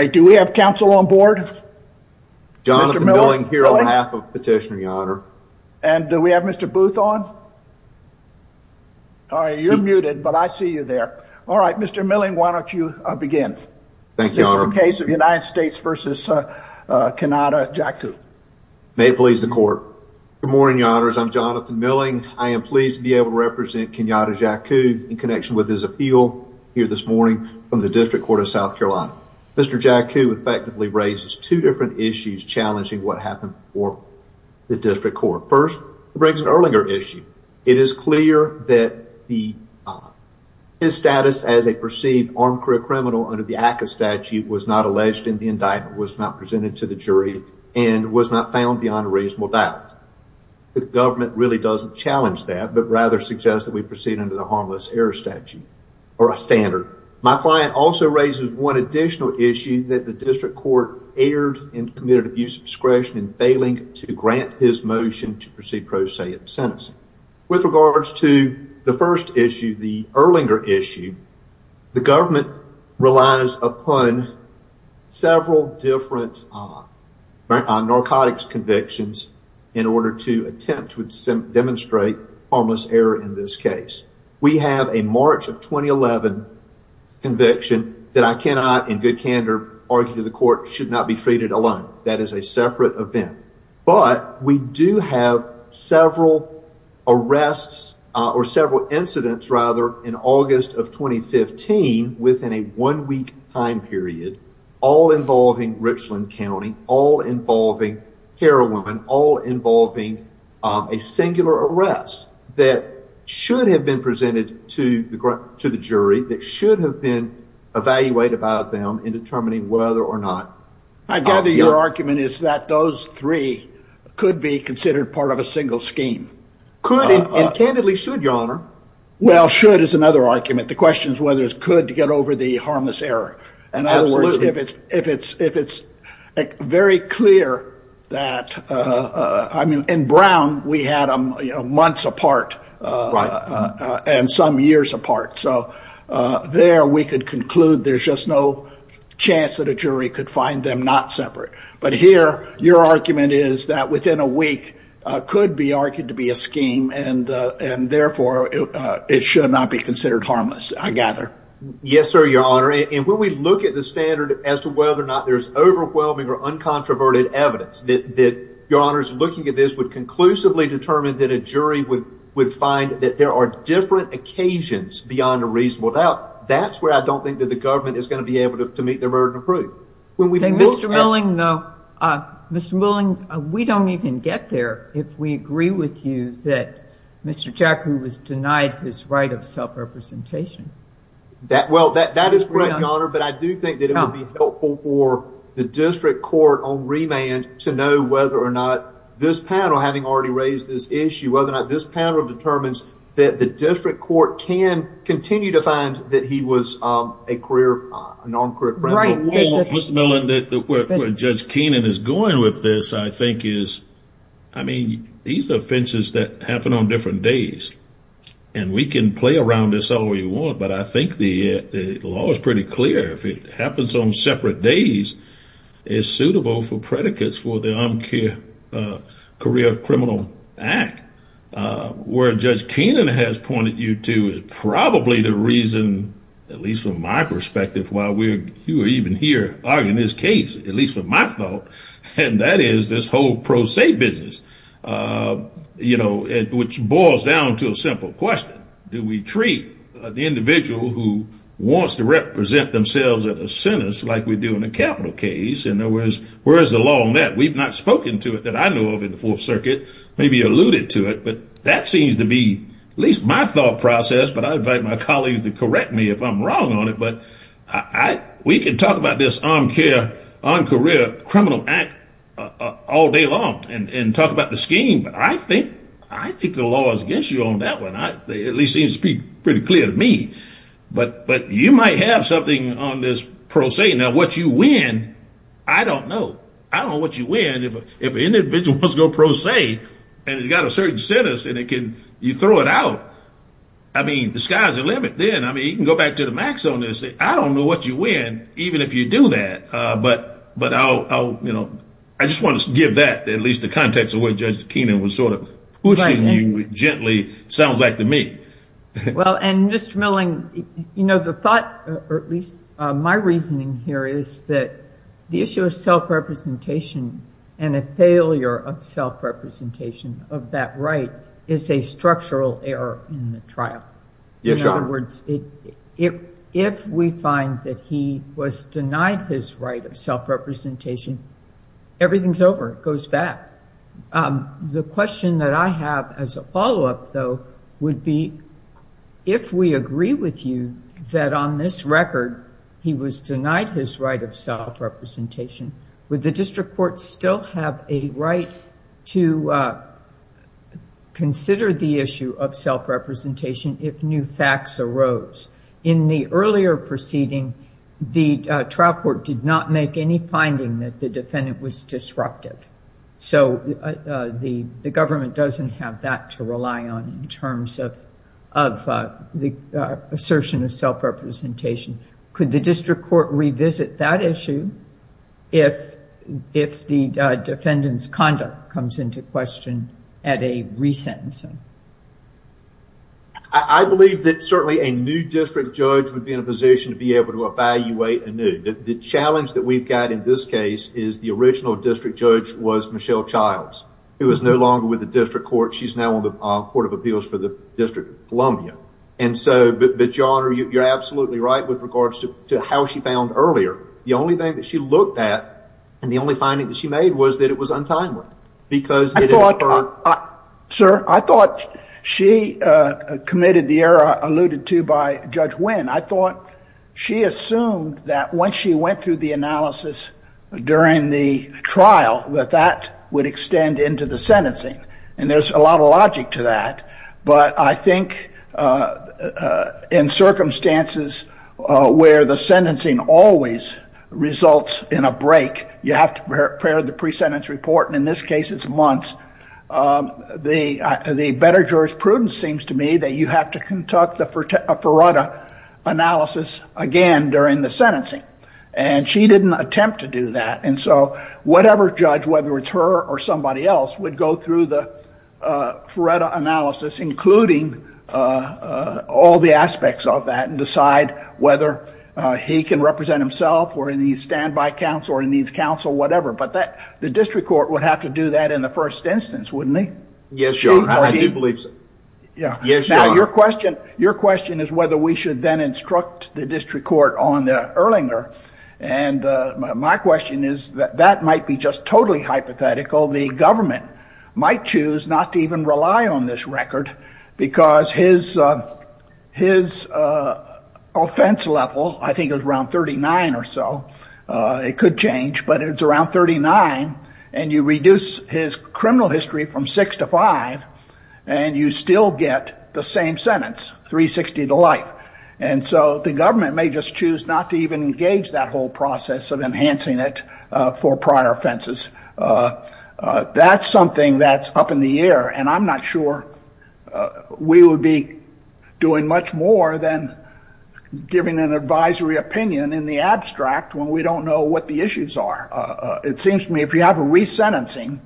Good morning your honors, I'm Jonathan Milling. I am pleased to be able to represent Kenyada Jaqu in connection with his appeal here this morning from the District Court of South Carolina. Mr. Jaqu effectively raises two different issues challenging what happened for the District Court. First, the Briggs and Erlinger issue. It is clear that his status as a perceived armed criminal under the ACCA statute was not alleged in the indictment, was not presented to the jury, and was not found beyond a reasonable doubt. The government really doesn't challenge that but rather suggests that we proceed under the harmless error statute or a standard. My client also raises one additional issue that the District Court erred and committed abuse of discretion in failing to grant his motion to proceed pro se at the sentencing. With regards to the first issue, the Erlinger issue, the government relies upon several different narcotics convictions in order to attempt to demonstrate harmless error in this case. We have a March of 2011 conviction that I cannot in good candor argue the court should not be treated alone. That is a separate event. But we do have several arrests or several incidents rather in August of 2015 within a one-week time period, all involving Richland County, all involving heroin, all involving a singular arrest that should have been presented to the jury, that should have been evaluated by them in determining whether or not... I gather your argument is that those three could be considered part of a single scheme. Could and candidly should, Your Honor. Well, should is another argument. The question is whether it's could to get over the harmless error. In other words, if it's very clear that... I mean, in Brown, we had them months apart and some years apart. So there we could conclude there's just no chance that a jury could find them not separate. But here, your argument is that within a week could be argued to be a scheme and therefore it should not be considered harmless, I gather. Yes, sir, Your Honor. And when we look at the standard as to whether or not there's overwhelming or uncontroverted evidence that, Your Honors, looking at this would conclusively determine that a jury would find that there are different occasions beyond a reasonable doubt. That's where I don't think that the government is going to be able to meet their burden of proof. Mr. Milling, we don't even get there if we agree with you that Mr. Jackley was denied his right of self-representation. Well, that is correct, Your Honor, but I do think that it would be helpful for the district court on remand to know whether or not this panel, having already raised this issue, whether or not this panel determines that the district court can continue to find that he was a career, an armed career criminal. Right. Mr. Milling, where Judge Keenan is going with this, I think is, I mean, these offenses that happen on different days and we can play around this all we want, but I think the law is pretty clear. If it happens on separate days, it's suitable for predicates for the Armed Career Criminal Act. Where Judge Keenan has pointed you to is probably the reason, at least from my perspective, why we're even here arguing this case, at least in my thought, and that is this whole pro se business, you know, which boils down to a simple question. Do we treat the individual who wants to represent themselves at a sentence like we do in a capital case? In other words, where is the law on that? We've not spoken to it that I know of in the Fourth Circuit, maybe alluded to it, but that seems to be at least my thought process, but I invite my colleagues to correct me if I'm wrong on it, but we can talk about this Armed Career Criminal Act all day long and talk about the scheme, but I think the law is against you on that one, at least it seems to be pretty clear to me, but you might have something on this pro se. Now, what you win, I don't know. I don't know what you win. If an individual wants to go pro se and he's got a certain sentence and you throw it out, I mean, the sky's the limit then. I mean, you can go back to the max on this. I don't know what you win, even if you do that, but I just want to give that at least the context of where Judge Keenan was sort of pushing you gently, sounds like to me. Well, and Mr. Milling, you know, the thought, or at least my reasoning here is that the issue of self-representation and a failure of self-representation of that right is a In other words, if we find that he was denied his right of self-representation, everything's over. It goes back. The question that I have as a follow-up, though, would be if we agree with you that on this record he was denied his right of self-representation, would the district court still have a right to consider the issue of self-representation if new facts arose? In the earlier proceeding, the trial court did not make any finding that the defendant was disruptive, so the government doesn't have that to rely on in terms of the assertion of self-representation. Could the district court revisit that issue if the defendant's conduct comes into question at a re-sentencing? I believe that certainly a new district judge would be in a position to be able to evaluate anew. The challenge that we've got in this case is the original district judge was Michelle Childs, who is no longer with the district court. She's now on the Court of Appeals for the District of Columbia, but your Honor, you're absolutely right with regards to how she found earlier. The only thing that she looked at and the only finding that she made was that it was untimely. I thought, sir, I thought she committed the error alluded to by Judge Winn. I thought she assumed that once she went through the analysis during the trial, that that would extend into the sentencing, and there's a lot of logic to that. But I think in circumstances where the sentencing always results in a break, you have to prepare the pre-sentence report, and in this case, it's months, the better jurisprudence seems to me that you have to conduct the Feretta analysis again during the sentencing. And she didn't attempt to do that, and so whatever judge, whether it's her or somebody else, would go through the Feretta analysis, including all the aspects of that, and decide whether he can represent himself or in these standby counts or in these counts or whatever. But the district court would have to do that in the first instance, wouldn't it? Yes, Your Honor. I do believe so. Yes, Your Honor. Now, your question is whether we should then instruct the district court on Erlinger, and my question is that that might be just totally hypothetical. The government might choose not to even rely on this record, because his offense level, I think it was around 39 or so, it could change, but it's around 39, and you reduce his criminal history from six to five, and you still get the same sentence, 360 to life. And so the government may just choose not to even engage that whole process of enhancing it for prior offenses. That's something that's up in the air, and I'm not sure we would be doing much more than giving an advisory opinion in the abstract when we don't know what the issues are. It seems to me if you have a resentencing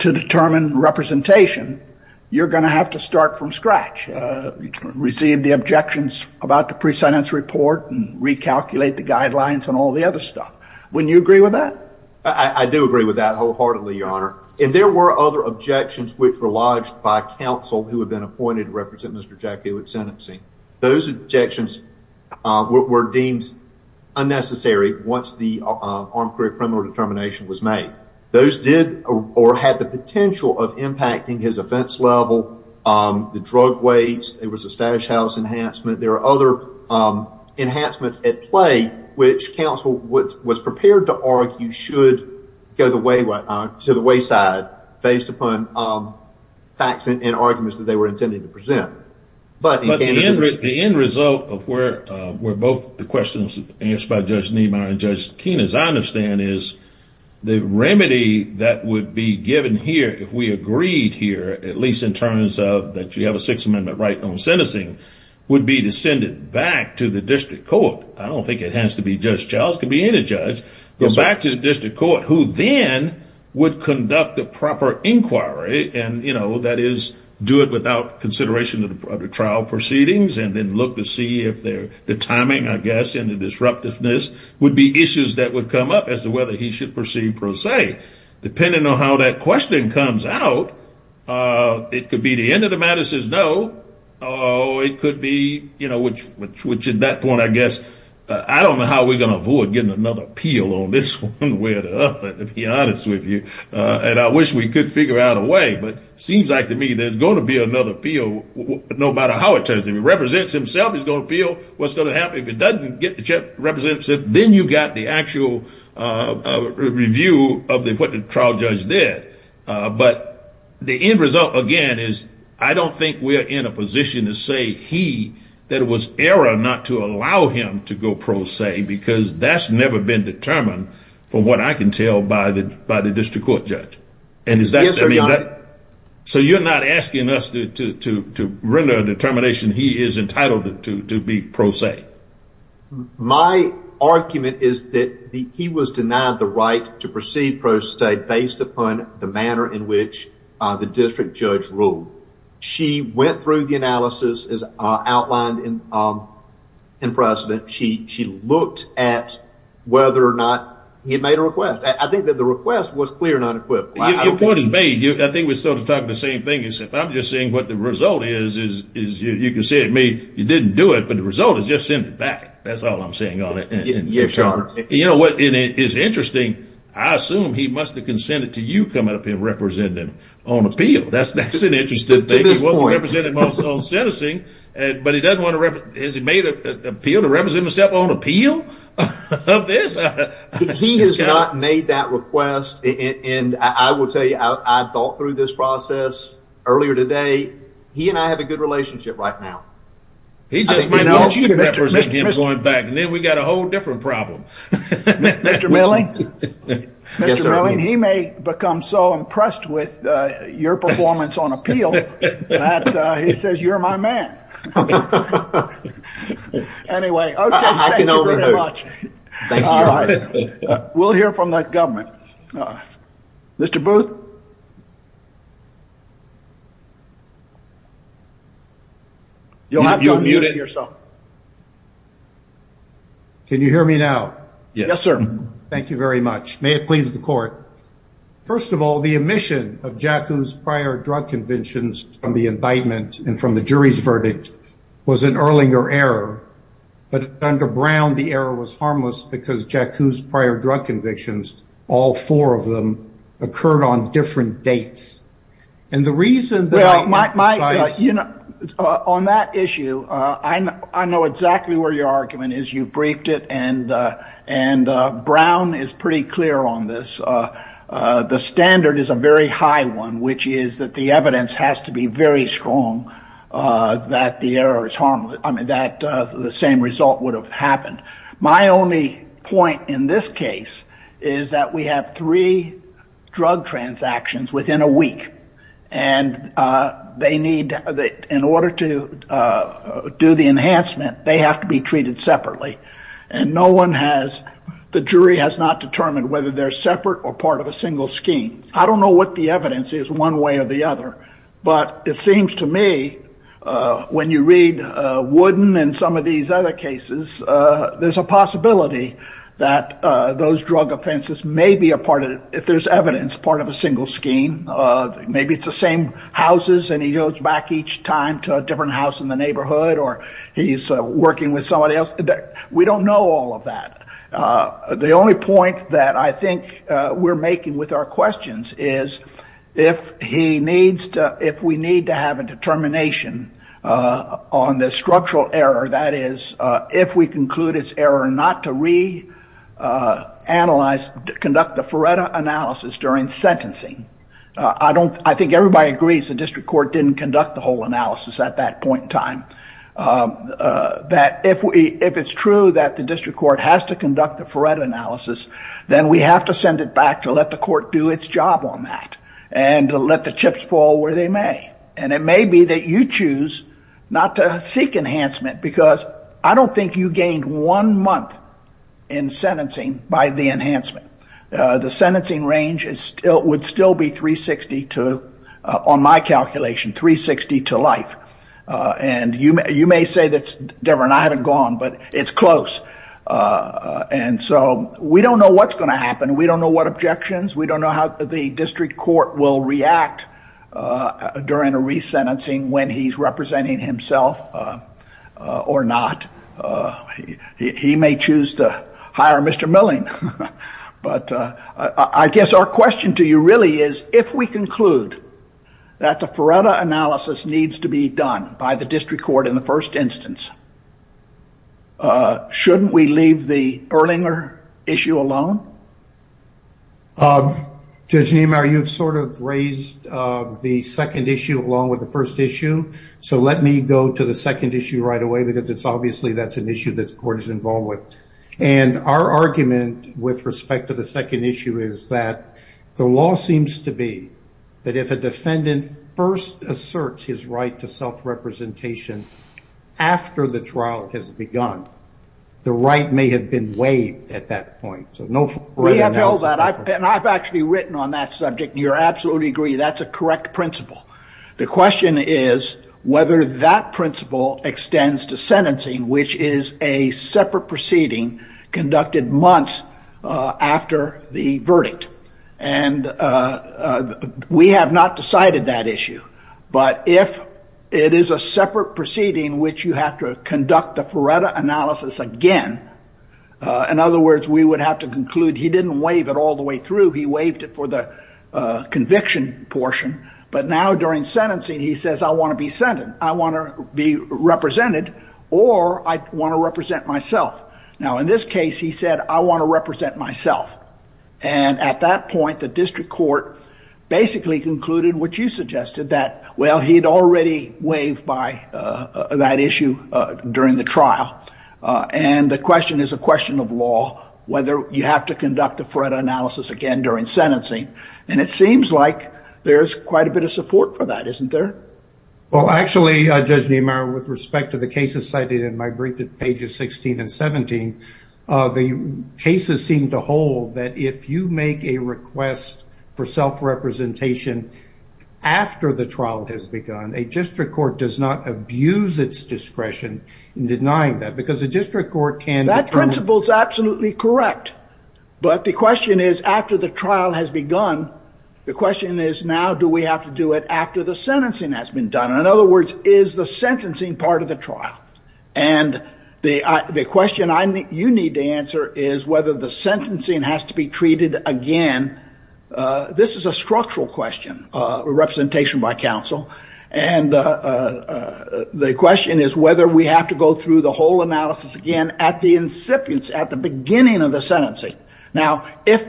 to determine representation, you're going to have to start from scratch, receive the objections about the pre-sentence report and recalculate the guidelines and all the other stuff. Wouldn't you agree with that? I do agree with that wholeheartedly, your honor. And there were other objections which were lodged by counsel who had been appointed to represent Mr. Jack Hewitt's sentencing. Those objections were deemed unnecessary once the armed career criminal determination was made. Those did or had the potential of impacting his offense level, the drug wage, there was a stash house enhancement. There are other enhancements at play which counsel was prepared to argue should go to the wayside based upon facts and arguments that they were intending to present. But the end result of where both the questions asked by Judge Niemeyer and Judge Kenan, as I understand, is the remedy that would be given here if we agreed here, at least in terms of that you have a Sixth Amendment right on sentencing, would be to send it back to the district court. I don't think it has to be Judge Childs, it could be any judge, but back to the district court who then would conduct a proper inquiry and, you know, that is, do it without consideration of the trial proceedings and then look to see if the timing, I guess, and the disruptiveness would be issues that would come up as to whether he should proceed per se. Depending on how that question comes out, it could be the end of the matter says no, it could be, you know, which at that point, I guess, I don't know how we're going to avoid getting another appeal on this one, to be honest with you, and I wish we could figure out a way, but it seems like to me there's going to be another appeal, no matter how it turns out. If he represents himself, he's going to appeal, what's going to happen if he doesn't get the representative, then you've got the actual review of what the trial judge did. But the end result, again, is I don't think we're in a position to say he, that it was error not to allow him to go per se because that's never been determined from what I can tell by the district court judge. And is that- So you're not asking us to render a determination he is entitled to be per se? My argument is that he was denied the right to proceed per se based upon the manner in which the district judge ruled. She went through the analysis, as outlined in precedent, she looked at whether or not he made a request. I think that the request was clear and unequivocal. Your point is made. I think we're sort of talking the same thing except I'm just saying what the result is, you can say to me, you didn't do it, but the result is just send it back. That's all I'm saying on it. Yes, Your Honor. You know what is interesting, I assume he must have consented to you coming up and representing on appeal. That's an interesting thing. He wasn't representing himself on sentencing, but he doesn't want to represent, has he made an appeal to represent himself on appeal of this? He has not made that request, and I will tell you, I thought through this process earlier today, he and I have a good relationship right now. He just might want you to represent him going back, and then we've got a whole different problem. Yes, sir. Mr. Milling, he may become so impressed with your performance on appeal that he says you're my man. Anyway. Okay. I can overhear. Thank you. We'll hear from that government. Mr. Booth? You'll have to unmute it yourself. Can you hear me now? Yes, sir. Thank you very much. May it please the court. First of all, the omission of Jaku's prior drug convictions from the indictment and from the jury's verdict was an Erlinger error, but under Brown, the error was harmless because Jaku's prior drug convictions, all four of them, occurred on the same day. Well, on that issue, I know exactly where your argument is. You briefed it, and Brown is pretty clear on this. The standard is a very high one, which is that the evidence has to be very strong that the error is harmless, that the same result would have happened. My only point in this case is that we have three drug transactions within a week, and they need, in order to do the enhancement, they have to be treated separately, and no one has, the jury has not determined whether they're separate or part of a single scheme. I don't know what the evidence is one way or the other, but it seems to me, when you read Wooden and some of these other cases, there's a possibility that those drug offenses may be a part of, if there's evidence, part of a single scheme. Maybe it's the same houses, and he goes back each time to a different house in the neighborhood, or he's working with somebody else. We don't know all of that. The only point that I think we're making with our questions is, if we need to have a determination on the structural error, that is, if we conclude it's error not to re-analyze, conduct the Feretta analysis during sentencing, I think everybody agrees the district court didn't conduct the whole analysis at that point in time, that if it's true that the district court has to conduct the Feretta analysis, then we have to send it back to let the court do its job on that, and let the chips fall where they may. It may be that you choose not to seek enhancement, because I don't think you gained one month in sentencing by the enhancement. The sentencing range would still be 360 to, on my calculation, 360 to life. You may say that, Debra, and I haven't gone, but it's close. We don't know what's going to happen. We don't know what objections. We don't know how the district court will react during a resentencing when he's representing himself or not. He may choose to hire Mr. Milling, but I guess our question to you really is, if we conclude that the Feretta analysis needs to be done by the district court in the first instance, shouldn't we leave the Erlinger issue alone? Judge Niemeyer, you've sort of raised the second issue along with the first issue, so let me go to the second issue right away, because obviously that's an issue that the court is involved with. Our argument with respect to the second issue is that the law seems to be that if a defendant first asserts his right to self-representation after the trial has begun, the right may have been waived at that point. We have held that, and I've actually written on that subject, and you absolutely agree that's a correct principle. The question is whether that principle extends to sentencing, which is a separate proceeding conducted months after the verdict. And we have not decided that issue, but if it is a separate proceeding which you have to conduct a Feretta analysis again, in other words, we would have to conclude he didn't waive it all the way through, he waived it for the conviction portion, but now during sentencing, he says, I want to be sentenced, I want to be represented, or I want to represent myself. Now in this case, he said, I want to represent myself. And at that point, the district court basically concluded what you suggested, that, well, he'd already waived by that issue during the trial. And the question is a question of law, whether you have to conduct a Feretta analysis again during sentencing. And it seems like there's quite a bit of support for that, isn't there? Well, actually, Judge Niemeyer, with respect to the cases cited in my brief at pages 16 and 17, the cases seem to hold that if you make a request for self-representation after the trial has begun, a district court does not abuse its discretion in denying that, because a district court can determine... That principle is absolutely correct. But the question is, after the trial has begun, the question is now do we have to do it after the sentencing has been done? In other words, is the sentencing part of the trial? And the question you need to answer is whether the sentencing has to be treated again. This is a structural question, representation by counsel. And the question is whether we have to go through the whole analysis again at the incipient, at the beginning of the sentencing. Now, if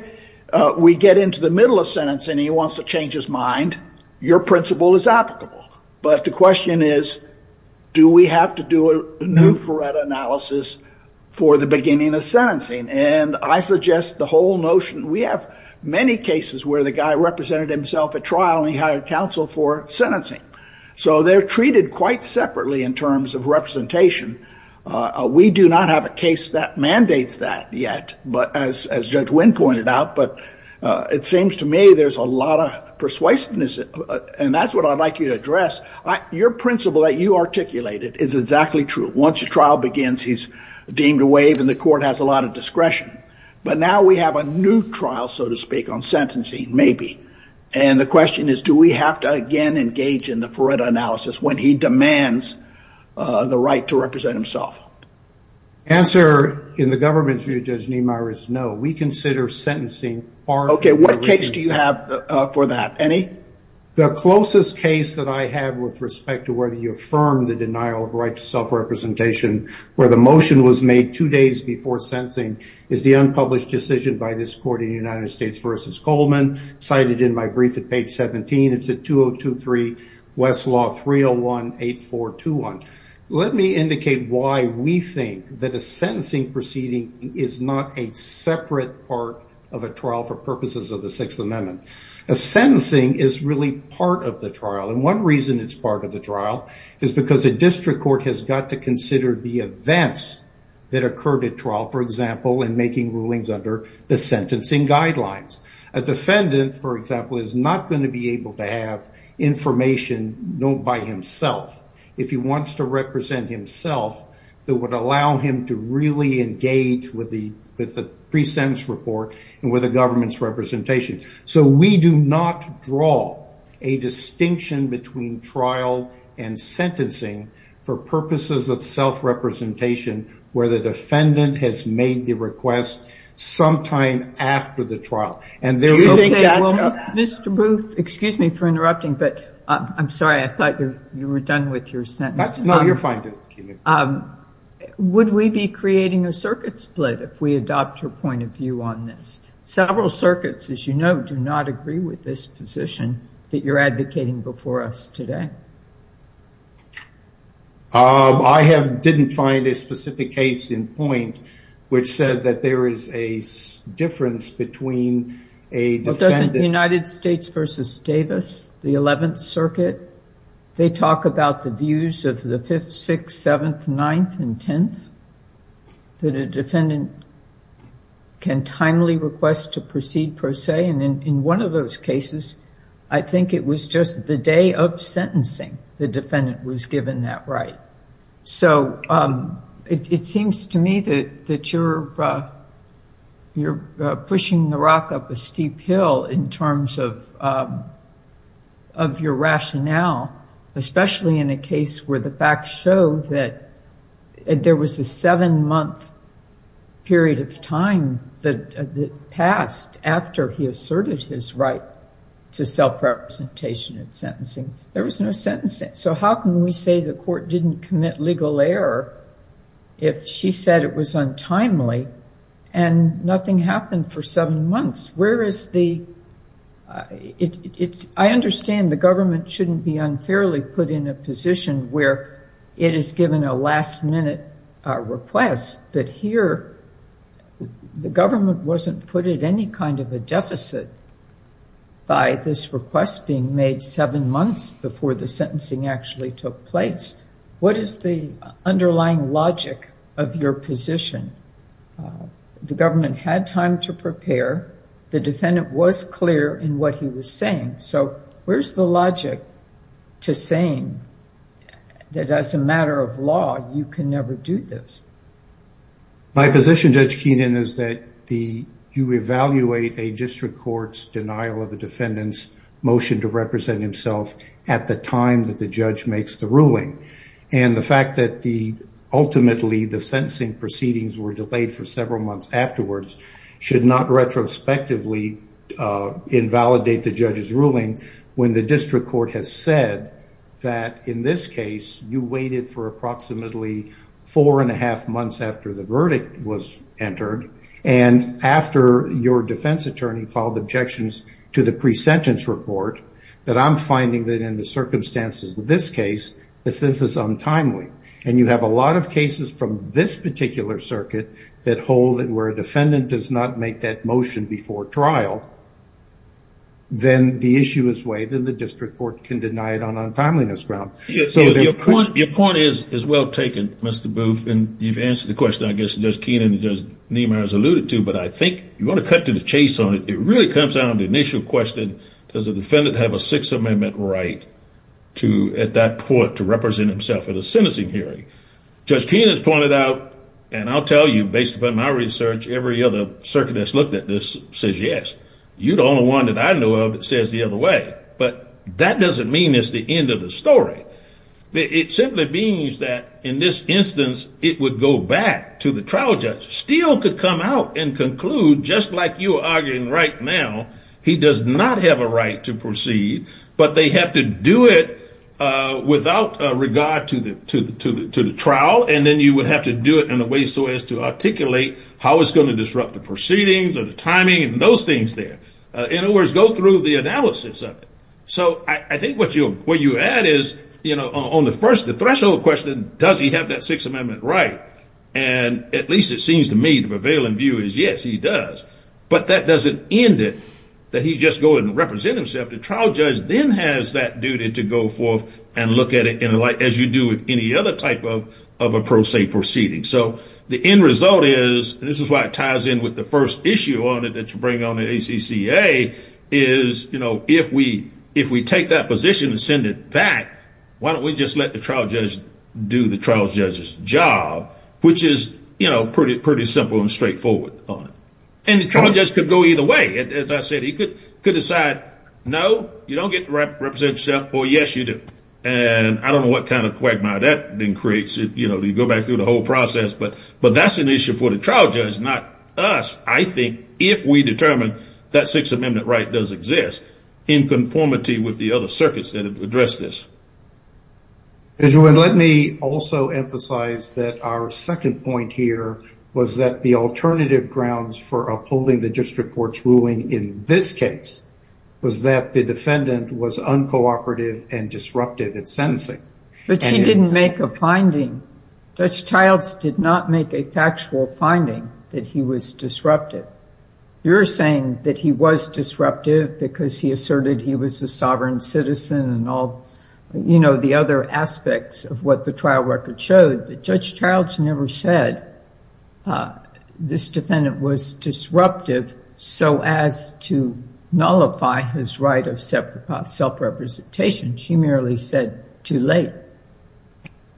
we get into the middle of sentencing and he wants to change his mind, your principle is applicable. But the question is, do we have to do a new Feretta analysis for the beginning of sentencing? And I suggest the whole notion... We have many cases where the guy represented himself at trial and he hired counsel for sentencing. So they're treated quite separately in terms of representation. We do not have a case that mandates that yet, as Judge Wynn pointed out. But it seems to me there's a lot of persuasiveness, and that's what I'd like you to address. Your principle that you articulated is exactly true. Once a trial begins, he's deemed a waive and the court has a lot of discretion. But now we have a new trial, so to speak, on sentencing, maybe. And the question is, do we have to again engage in the Feretta analysis when he demands the right to represent himself? Answer, in the government's view, Judge Niemeyer, is no. We consider sentencing part of the regime. Okay, what case do you have for that? Any? The closest case that I have with respect to whether you affirm the denial of right to self-representation, where the motion was made two days before sentencing, is the unpublished decision by this court in United States v. Coleman, cited in my brief at page 17. It's at 2023 West Law 301-8421. Let me indicate why we think that a sentencing proceeding is not a separate part of a trial for purposes of the Sixth Amendment. A sentencing is really part of the trial, and one reason it's part of the trial is because a district court has got to consider the events that occurred at trial, for example, in making rulings under the sentencing guidelines. A defendant, for example, is not going to be able to have information known by himself if he wants to represent himself that would allow him to really engage with the pre-sentence report and with the government's representation. So we do not draw a distinction between trial and sentencing for purposes of self-representation where the defendant has made the request sometime after the trial. Okay, well, Mr. Booth, excuse me for interrupting, but I'm sorry, I thought you were done with your sentence. No, you're fine. Would we be creating a circuit split if we adopt your point of view on this? Several circuits, as you know, do not agree with this position that you're advocating before us today. I didn't find a specific case in point which said that there is a difference between a defendant. Doesn't United States v. Davis, the 11th Circuit, they talk about the views of the 5th, 6th, 7th, 9th, and 10th that a defendant can timely request to proceed per se, and in one of those cases I think it was just the day of sentencing the defendant was given that right. So it seems to me that you're pushing the rock up a steep hill in terms of your rationale, especially in a case where the facts show that there was a seven-month period of time that passed after he asserted his right to self-representation in sentencing. There was no sentencing. So how can we say the court didn't commit legal error if she said it was untimely and nothing happened for seven months? I understand the government shouldn't be unfairly put in a position where it is given a last-minute request, but here the government wasn't put at any kind of a deficit by this request being made seven months before the sentencing actually took place. What is the underlying logic of your position? The government had time to prepare. The defendant was clear in what he was saying. So where's the logic to saying that as a matter of law you can never do this? My position, Judge Keenan, is that you evaluate a district court's denial of the defendant's motion to represent himself at the time that the judge makes the ruling. And the fact that ultimately the sentencing proceedings were delayed for several months afterwards should not retrospectively invalidate the judge's ruling when the district court has said that in this case you waited for approximately four and a half months after the verdict was entered and after your defense attorney filed objections to the pre-sentence report that I'm finding that in the circumstances of this case, this is untimely. And you have a lot of cases from this particular circuit that hold that where a defendant does not make that motion before trial, then the issue is waived and the district court can deny it on untimeliness grounds. So your point is well taken, Mr. Booth, and you've answered the question I guess Judge Keenan and Judge Niemeyer has alluded to, but I think you want to cut to the chase on it. It really comes down to the initial question, does the defendant have a Sixth Amendment right at that point to represent himself at a sentencing hearing? Judge Keenan's pointed out, and I'll tell you, based upon my research, every other circuit that's looked at this says yes. You're the only one that I know of that says the other way. But that doesn't mean it's the end of the story. It simply means that in this instance it would go back to the trial judge, still could come out and conclude just like you are arguing right now, he does not have a right to proceed, but they have to do it without regard to the trial, and then you would have to do it in a way so as to articulate how it's going to disrupt the proceedings or the timing and those things there. In other words, go through the analysis of it. So I think what you add is on the threshold question, does he have that Sixth Amendment right? And at least it seems to me the prevailing view is yes, he does. But that doesn't end it, that he just goes and represents himself. The trial judge then has that duty to go forth and look at it as you do with any other type of a pro se proceeding. So the end result is, and this is why it ties in with the first issue on it that you bring on the ACCA, is if we take that position and send it back, why don't we just let the trial judge do the trial judge's job, which is pretty simple and straightforward. And the trial judge could go either way. As I said, he could decide no, you don't represent yourself, or yes, you do. And I don't know what kind of quagmire that creates. You go back through the whole process. But that's an issue for the trial judge, not us. I think if we determine that Sixth Amendment right does exist in conformity with the other circuits that have addressed this. Let me also emphasize that our second point here was that the alternative grounds for upholding the district court's ruling in this case was that the defendant was uncooperative and disruptive at sentencing. But she didn't make a finding. Judge Childs did not make a factual finding that he was disruptive. You're saying that he was disruptive because he asserted he was a sovereign citizen and all the other aspects of what the trial record showed. But Judge Childs never said this defendant was disruptive so as to nullify his right of self-representation. She merely said too late.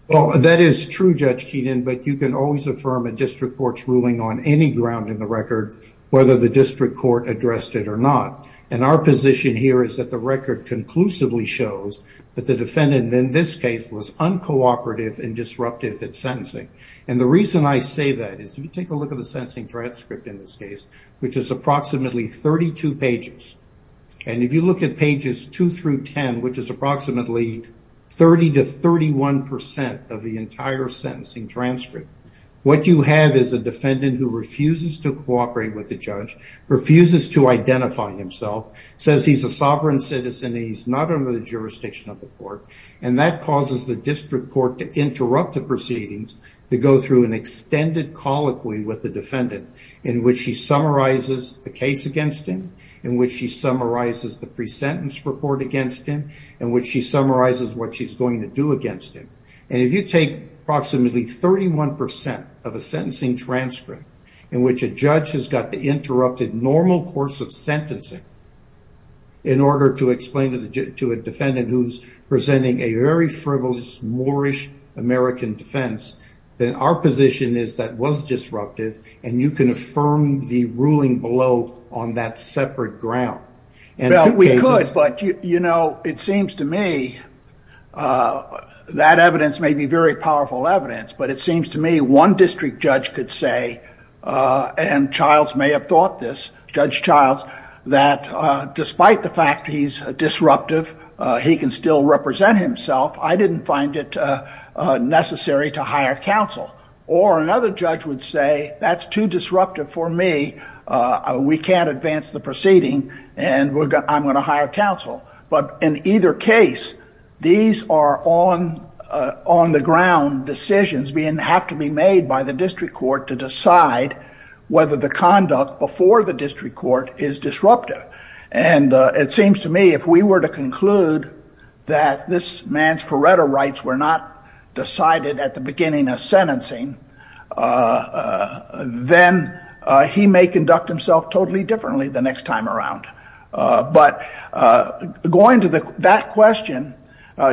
Well, that is true, Judge Keenan, but you can always affirm a district court's ruling on any ground in the record, whether the district court addressed it or not. And our position here is that the record conclusively shows that the defendant in this case was uncooperative and disruptive at sentencing. And the reason I say that is if you take a look at the sentencing transcript in this case, which is approximately 32 pages, and if you look at pages 2 through 10, which is approximately 30 to 31 percent of the entire sentencing transcript, what you have is a defendant who refuses to cooperate with the judge, refuses to identify himself, says he's a sovereign citizen and he's not under the jurisdiction of the court, and that causes the district court to interrupt the proceedings to go through an extended colloquy with the defendant in which he summarizes the case against him, in which he summarizes the pre-sentence report against him, in which he summarizes what she's going to do against him. And if you take approximately 31 percent of a sentencing transcript in which a judge has got the interrupted normal course of sentencing in order to explain to a defendant who's presenting a very frivolous, moorish American defense, then our position is that was disruptive and you can affirm the ruling below on that separate ground. Well, we could, but, you know, it seems to me that evidence may be very powerful evidence, but it seems to me one district judge could say, and Childs may have thought this, Judge Childs, that despite the fact he's disruptive, he can still represent himself. I didn't find it necessary to hire counsel. Or another judge would say that's too disruptive for me. We can't advance the proceeding and I'm going to hire counsel. But in either case, these are on the ground decisions that have to be made by the district court to decide whether the conduct before the district court is disruptive. And it seems to me if we were to conclude that this man's forerunner rights were not decided at the beginning of sentencing, then he may conduct himself totally differently the next time around. But going to that question,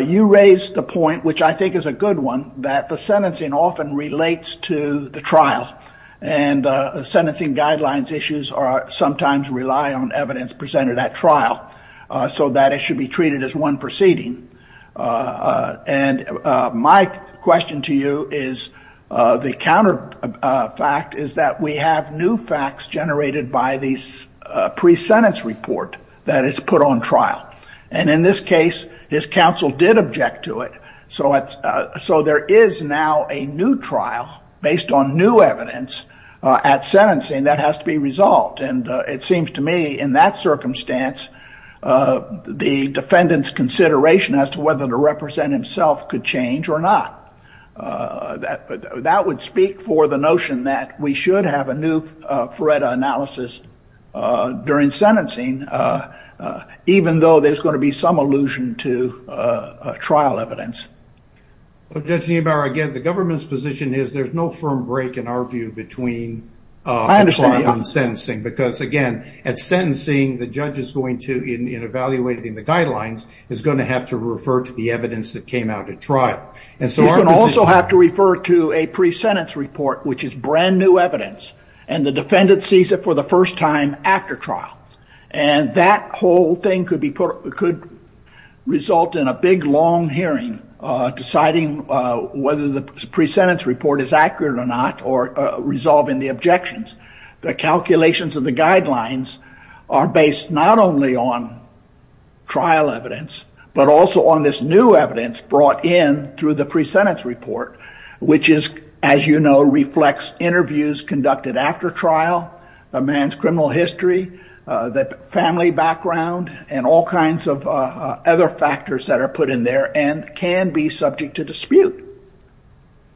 you raised the point, which I think is a good one, that the sentencing often relates to the trial and sentencing guidelines issues are sometimes rely on evidence presented at trial so that it should be treated as one proceeding. And my question to you is the counter fact is that we have new facts generated by these pre-sentence report that is put on trial. And in this case, his counsel did object to it. So there is now a new trial based on new evidence at sentencing that has to be resolved. And it seems to me in that circumstance, the defendant's consideration as to whether to represent himself could change or not. That would speak for the notion that we should have a new FREDA analysis during sentencing, even though there's going to be some allusion to trial evidence. Well, Judge Neubauer, again, the government's position is there's no firm break in our view between trial and sentencing. Because again, at sentencing, the judge is going to, in evaluating the guidelines, is going to have to refer to the evidence that came out at trial. You can also have to refer to a pre-sentence report, which is brand new evidence. And the defendant sees it for the first time after trial. And that whole thing could result in a big, long hearing, deciding whether the pre-sentence report is accurate or not, or resolving the objections. The calculations of the guidelines are based not only on trial evidence, but also on this new evidence brought in through the pre-sentence report, which is, as you know, reflects interviews conducted after trial, a man's criminal history, family background, and all kinds of other factors that are put in there and can be subject to dispute.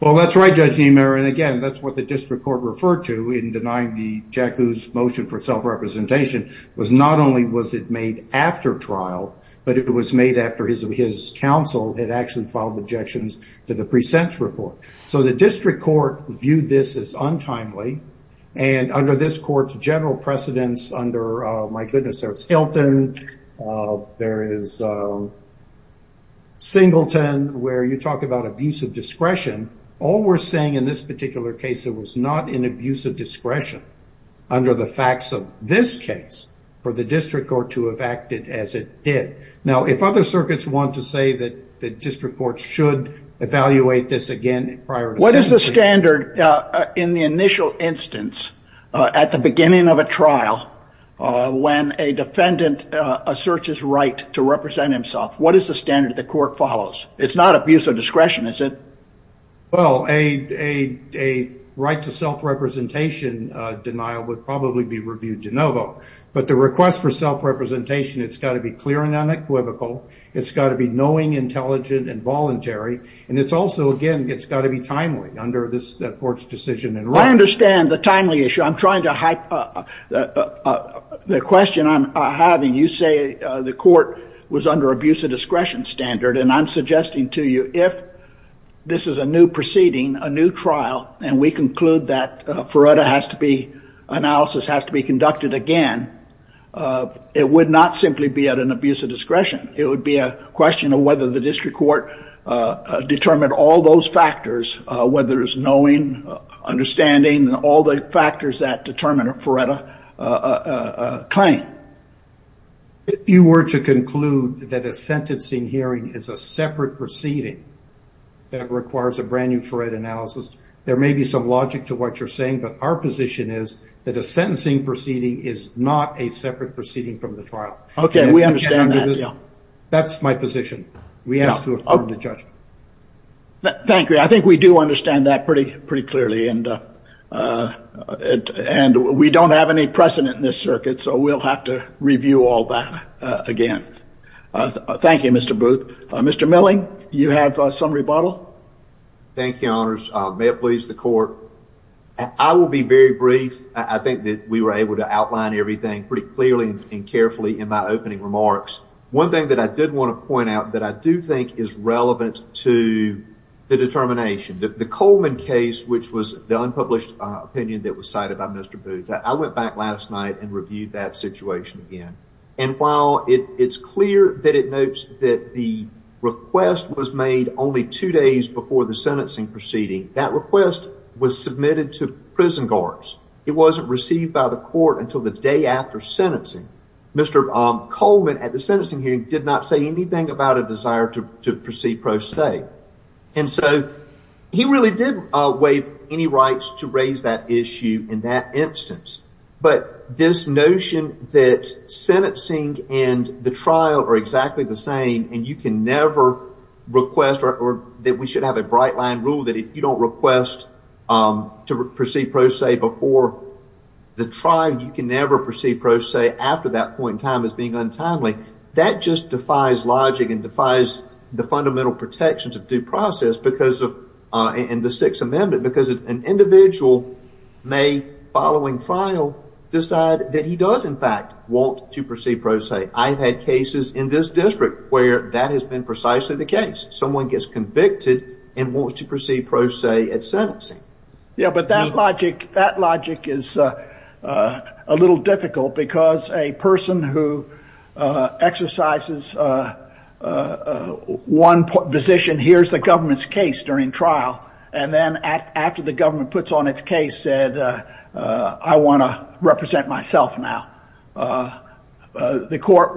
Well, that's right, Judge Neubauer. And again, that's what the district court referred to in denying the JACU's motion for self-representation, was not only was it made after trial, but it was made after his counsel had actually filed objections to the pre-sentence report. So the district court viewed this as untimely, and under this court's general precedence under, my goodness, there's Hilton, there is Singleton, where you talk about abuse of discretion. All we're saying in this particular case, it was not an abuse of discretion, under the facts of this case, for the district court to have acted as it did. Now, if other circuits want to say that the district court should evaluate this again prior to sentencing. What is the standard in the initial instance, at the beginning of a trial, when a defendant asserts his right to represent himself, what is the standard the court follows? It's not abuse of discretion, is it? Well, a right to self-representation denial would probably be reviewed de novo. But the request for self-representation, it's got to be clear and unequivocal. It's got to be knowing, intelligent, and voluntary. And it's also, again, it's got to be timely under this court's decision in writing. I understand the timely issue. I'm trying to hype up the question I'm having. You say the court was under abuse of discretion standard. And I'm suggesting to you, if this is a new proceeding, a new trial, and we conclude that Feretta has to be, analysis has to be conducted again, it would not simply be at an abuse of discretion. It would be a question of whether the district court determined all those factors, whether it's knowing, understanding, all the factors that determine a Feretta claim. If you were to conclude that a sentencing hearing is a separate proceeding that requires a brand new Feretta analysis, there may be some logic to what you're saying, but our position is that a sentencing proceeding is not a separate proceeding from the trial. Okay, we understand that, yeah. That's my position. We ask to affirm the judgment. Thank you. I think we do understand that pretty clearly. And we don't have any precedent in this circuit, so we'll have to review all that again. Thank you, Mr. Booth. Mr. Milling, you have some rebuttal. Thank you, Your Honors. May it please the court. I will be very brief. I think that we were able to outline everything pretty clearly and carefully in my opening remarks. One thing that I did want to point out that I do think is relevant to the determination, the Coleman case, which was the unpublished opinion that was cited by Mr. Booth. I went back last night and reviewed that situation again. And while it's clear that it notes that the request was made only two days before the sentencing proceeding, that request was submitted to prison guards. It wasn't received by the court until the day after sentencing. Mr. Coleman, at the sentencing hearing, did not say anything about a desire to proceed pro se. And so he really did waive any rights to raise that issue in that instance. But this notion that sentencing and the trial are exactly the same and you can never request, or that we should have a bright line rule that if you don't request to proceed pro se before the trial, you can never proceed pro se after that point in time as being untimely, that just defies logic and defies the fundamental protections of due process in the Sixth Amendment because an individual may, following trial, decide that he does, in fact, want to proceed pro se. I've had cases in this district where that has been precisely the case. Someone gets convicted and wants to proceed pro se at sentencing. Yeah, but that logic is a little difficult because a person who exercises one position hears the government's case during trial and then after the government puts on its case said, I want to represent myself now. The court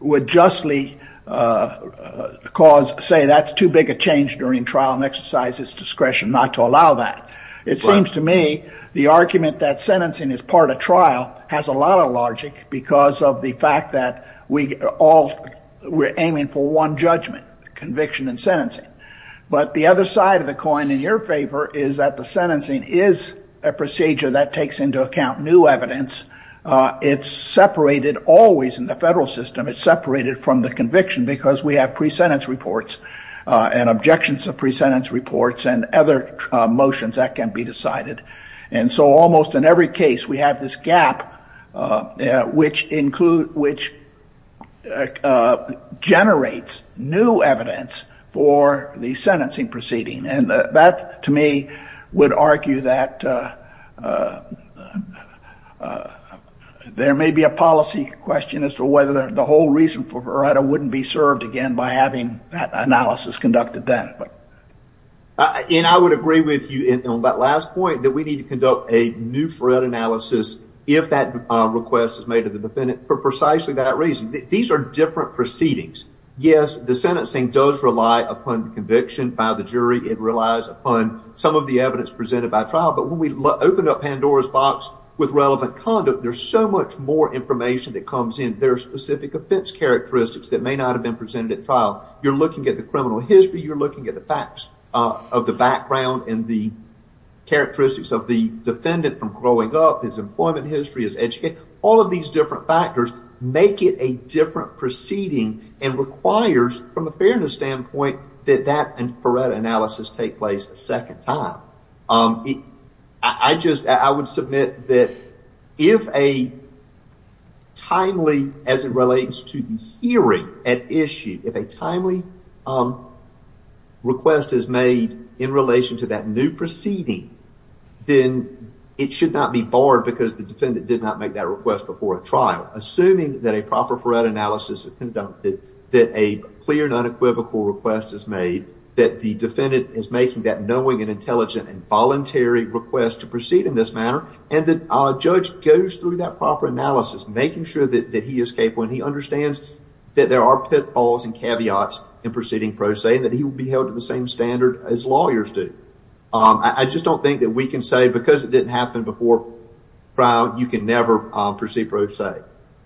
would justly say that's too big a change during trial and exercise its discretion not to allow that. It seems to me the argument that sentencing is part of trial has a lot of logic because of the fact that we're aiming for one judgment, conviction and sentencing. But the other side of the coin in your favor is that the sentencing is a procedure that takes into account new evidence. It's separated, always in the federal system, it's separated from the conviction because we have pre-sentence reports and objections of pre-sentence reports and other motions that can be decided. And so almost in every case we have this gap which generates new evidence for the sentencing proceeding. And that to me would argue that there may be a policy question as to whether the whole reason for Verretta wouldn't be served again by having that analysis conducted then. And I would agree with you on that last point that we need to conduct a new Verretta analysis if that request is made to the defendant for precisely that reason. These are different proceedings. Yes, the sentencing does rely upon conviction by the jury. It relies upon some of the evidence presented by trial. But when we open up Pandora's box with relevant conduct, there's so much more information that comes in. There are specific offense characteristics that may not have been presented at trial. You're looking at the criminal history, you're looking at the facts of the background and the characteristics of the defendant from growing up, his employment history, his education. All of these different factors make it a different proceeding and requires from a fairness standpoint that that Verretta analysis take place a second time. I would submit that if a timely, as it relates to the hearing at issue, if a timely request is made in relation to that new proceeding, then it should not be barred because the defendant did not make that request before a trial. Assuming that a proper Verretta analysis is conducted, that a clear and unequivocal request is made, that the defendant is making that knowing and intelligent and voluntary request to proceed in this manner and that a judge goes through that proper analysis, making sure that he is capable and he understands that there are pitfalls and caveats in proceeding pro se and that he will be held to the same standard as lawyers do. I just don't think that we can say because it didn't happen before trial, you can never proceed pro se.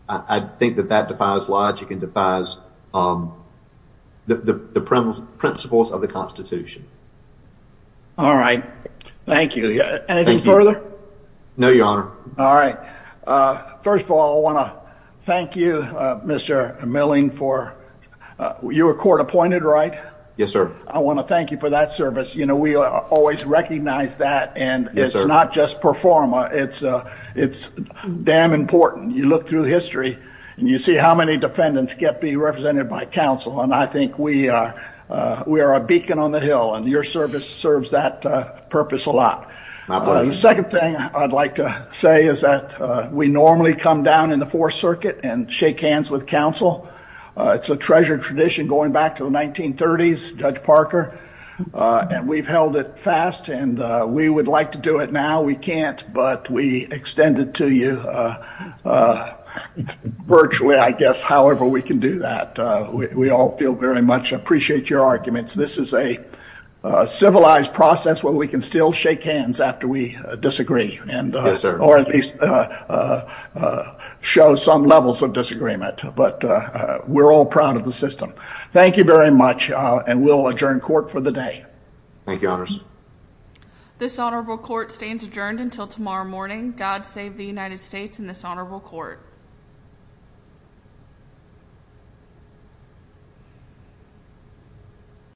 I think that that defies logic and defies the principles of the Constitution. All right. Thank you. Anything further? No, Your Honor. All right. First of all, I want to thank you, Mr. Milling, you were court appointed, right? Yes, sir. I want to thank you for that service. You know, we always recognize that and it's not just performa, it's damn important. You look through history and you see how many defendants get to be represented by counsel and I think we are a beacon on the hill and your service serves that purpose a lot. My pleasure. The second thing I'd like to say is that we normally come down in the Fourth Circuit and shake hands with counsel. It's a treasured tradition going back to the 1930s, Judge Parker, and we've held it fast and we would like to do it now. We can't, but we extend it to you virtually, I guess, however we can do that. We all feel very much appreciate your arguments. This is a civilized process where we can still shake hands after we disagree or at least show some levels of disagreement. But we're all proud of the system. Thank you very much and we'll adjourn court for the day. Thank you, Your Honor. This honorable court stands adjourned until tomorrow morning. God save the United States and this honorable court.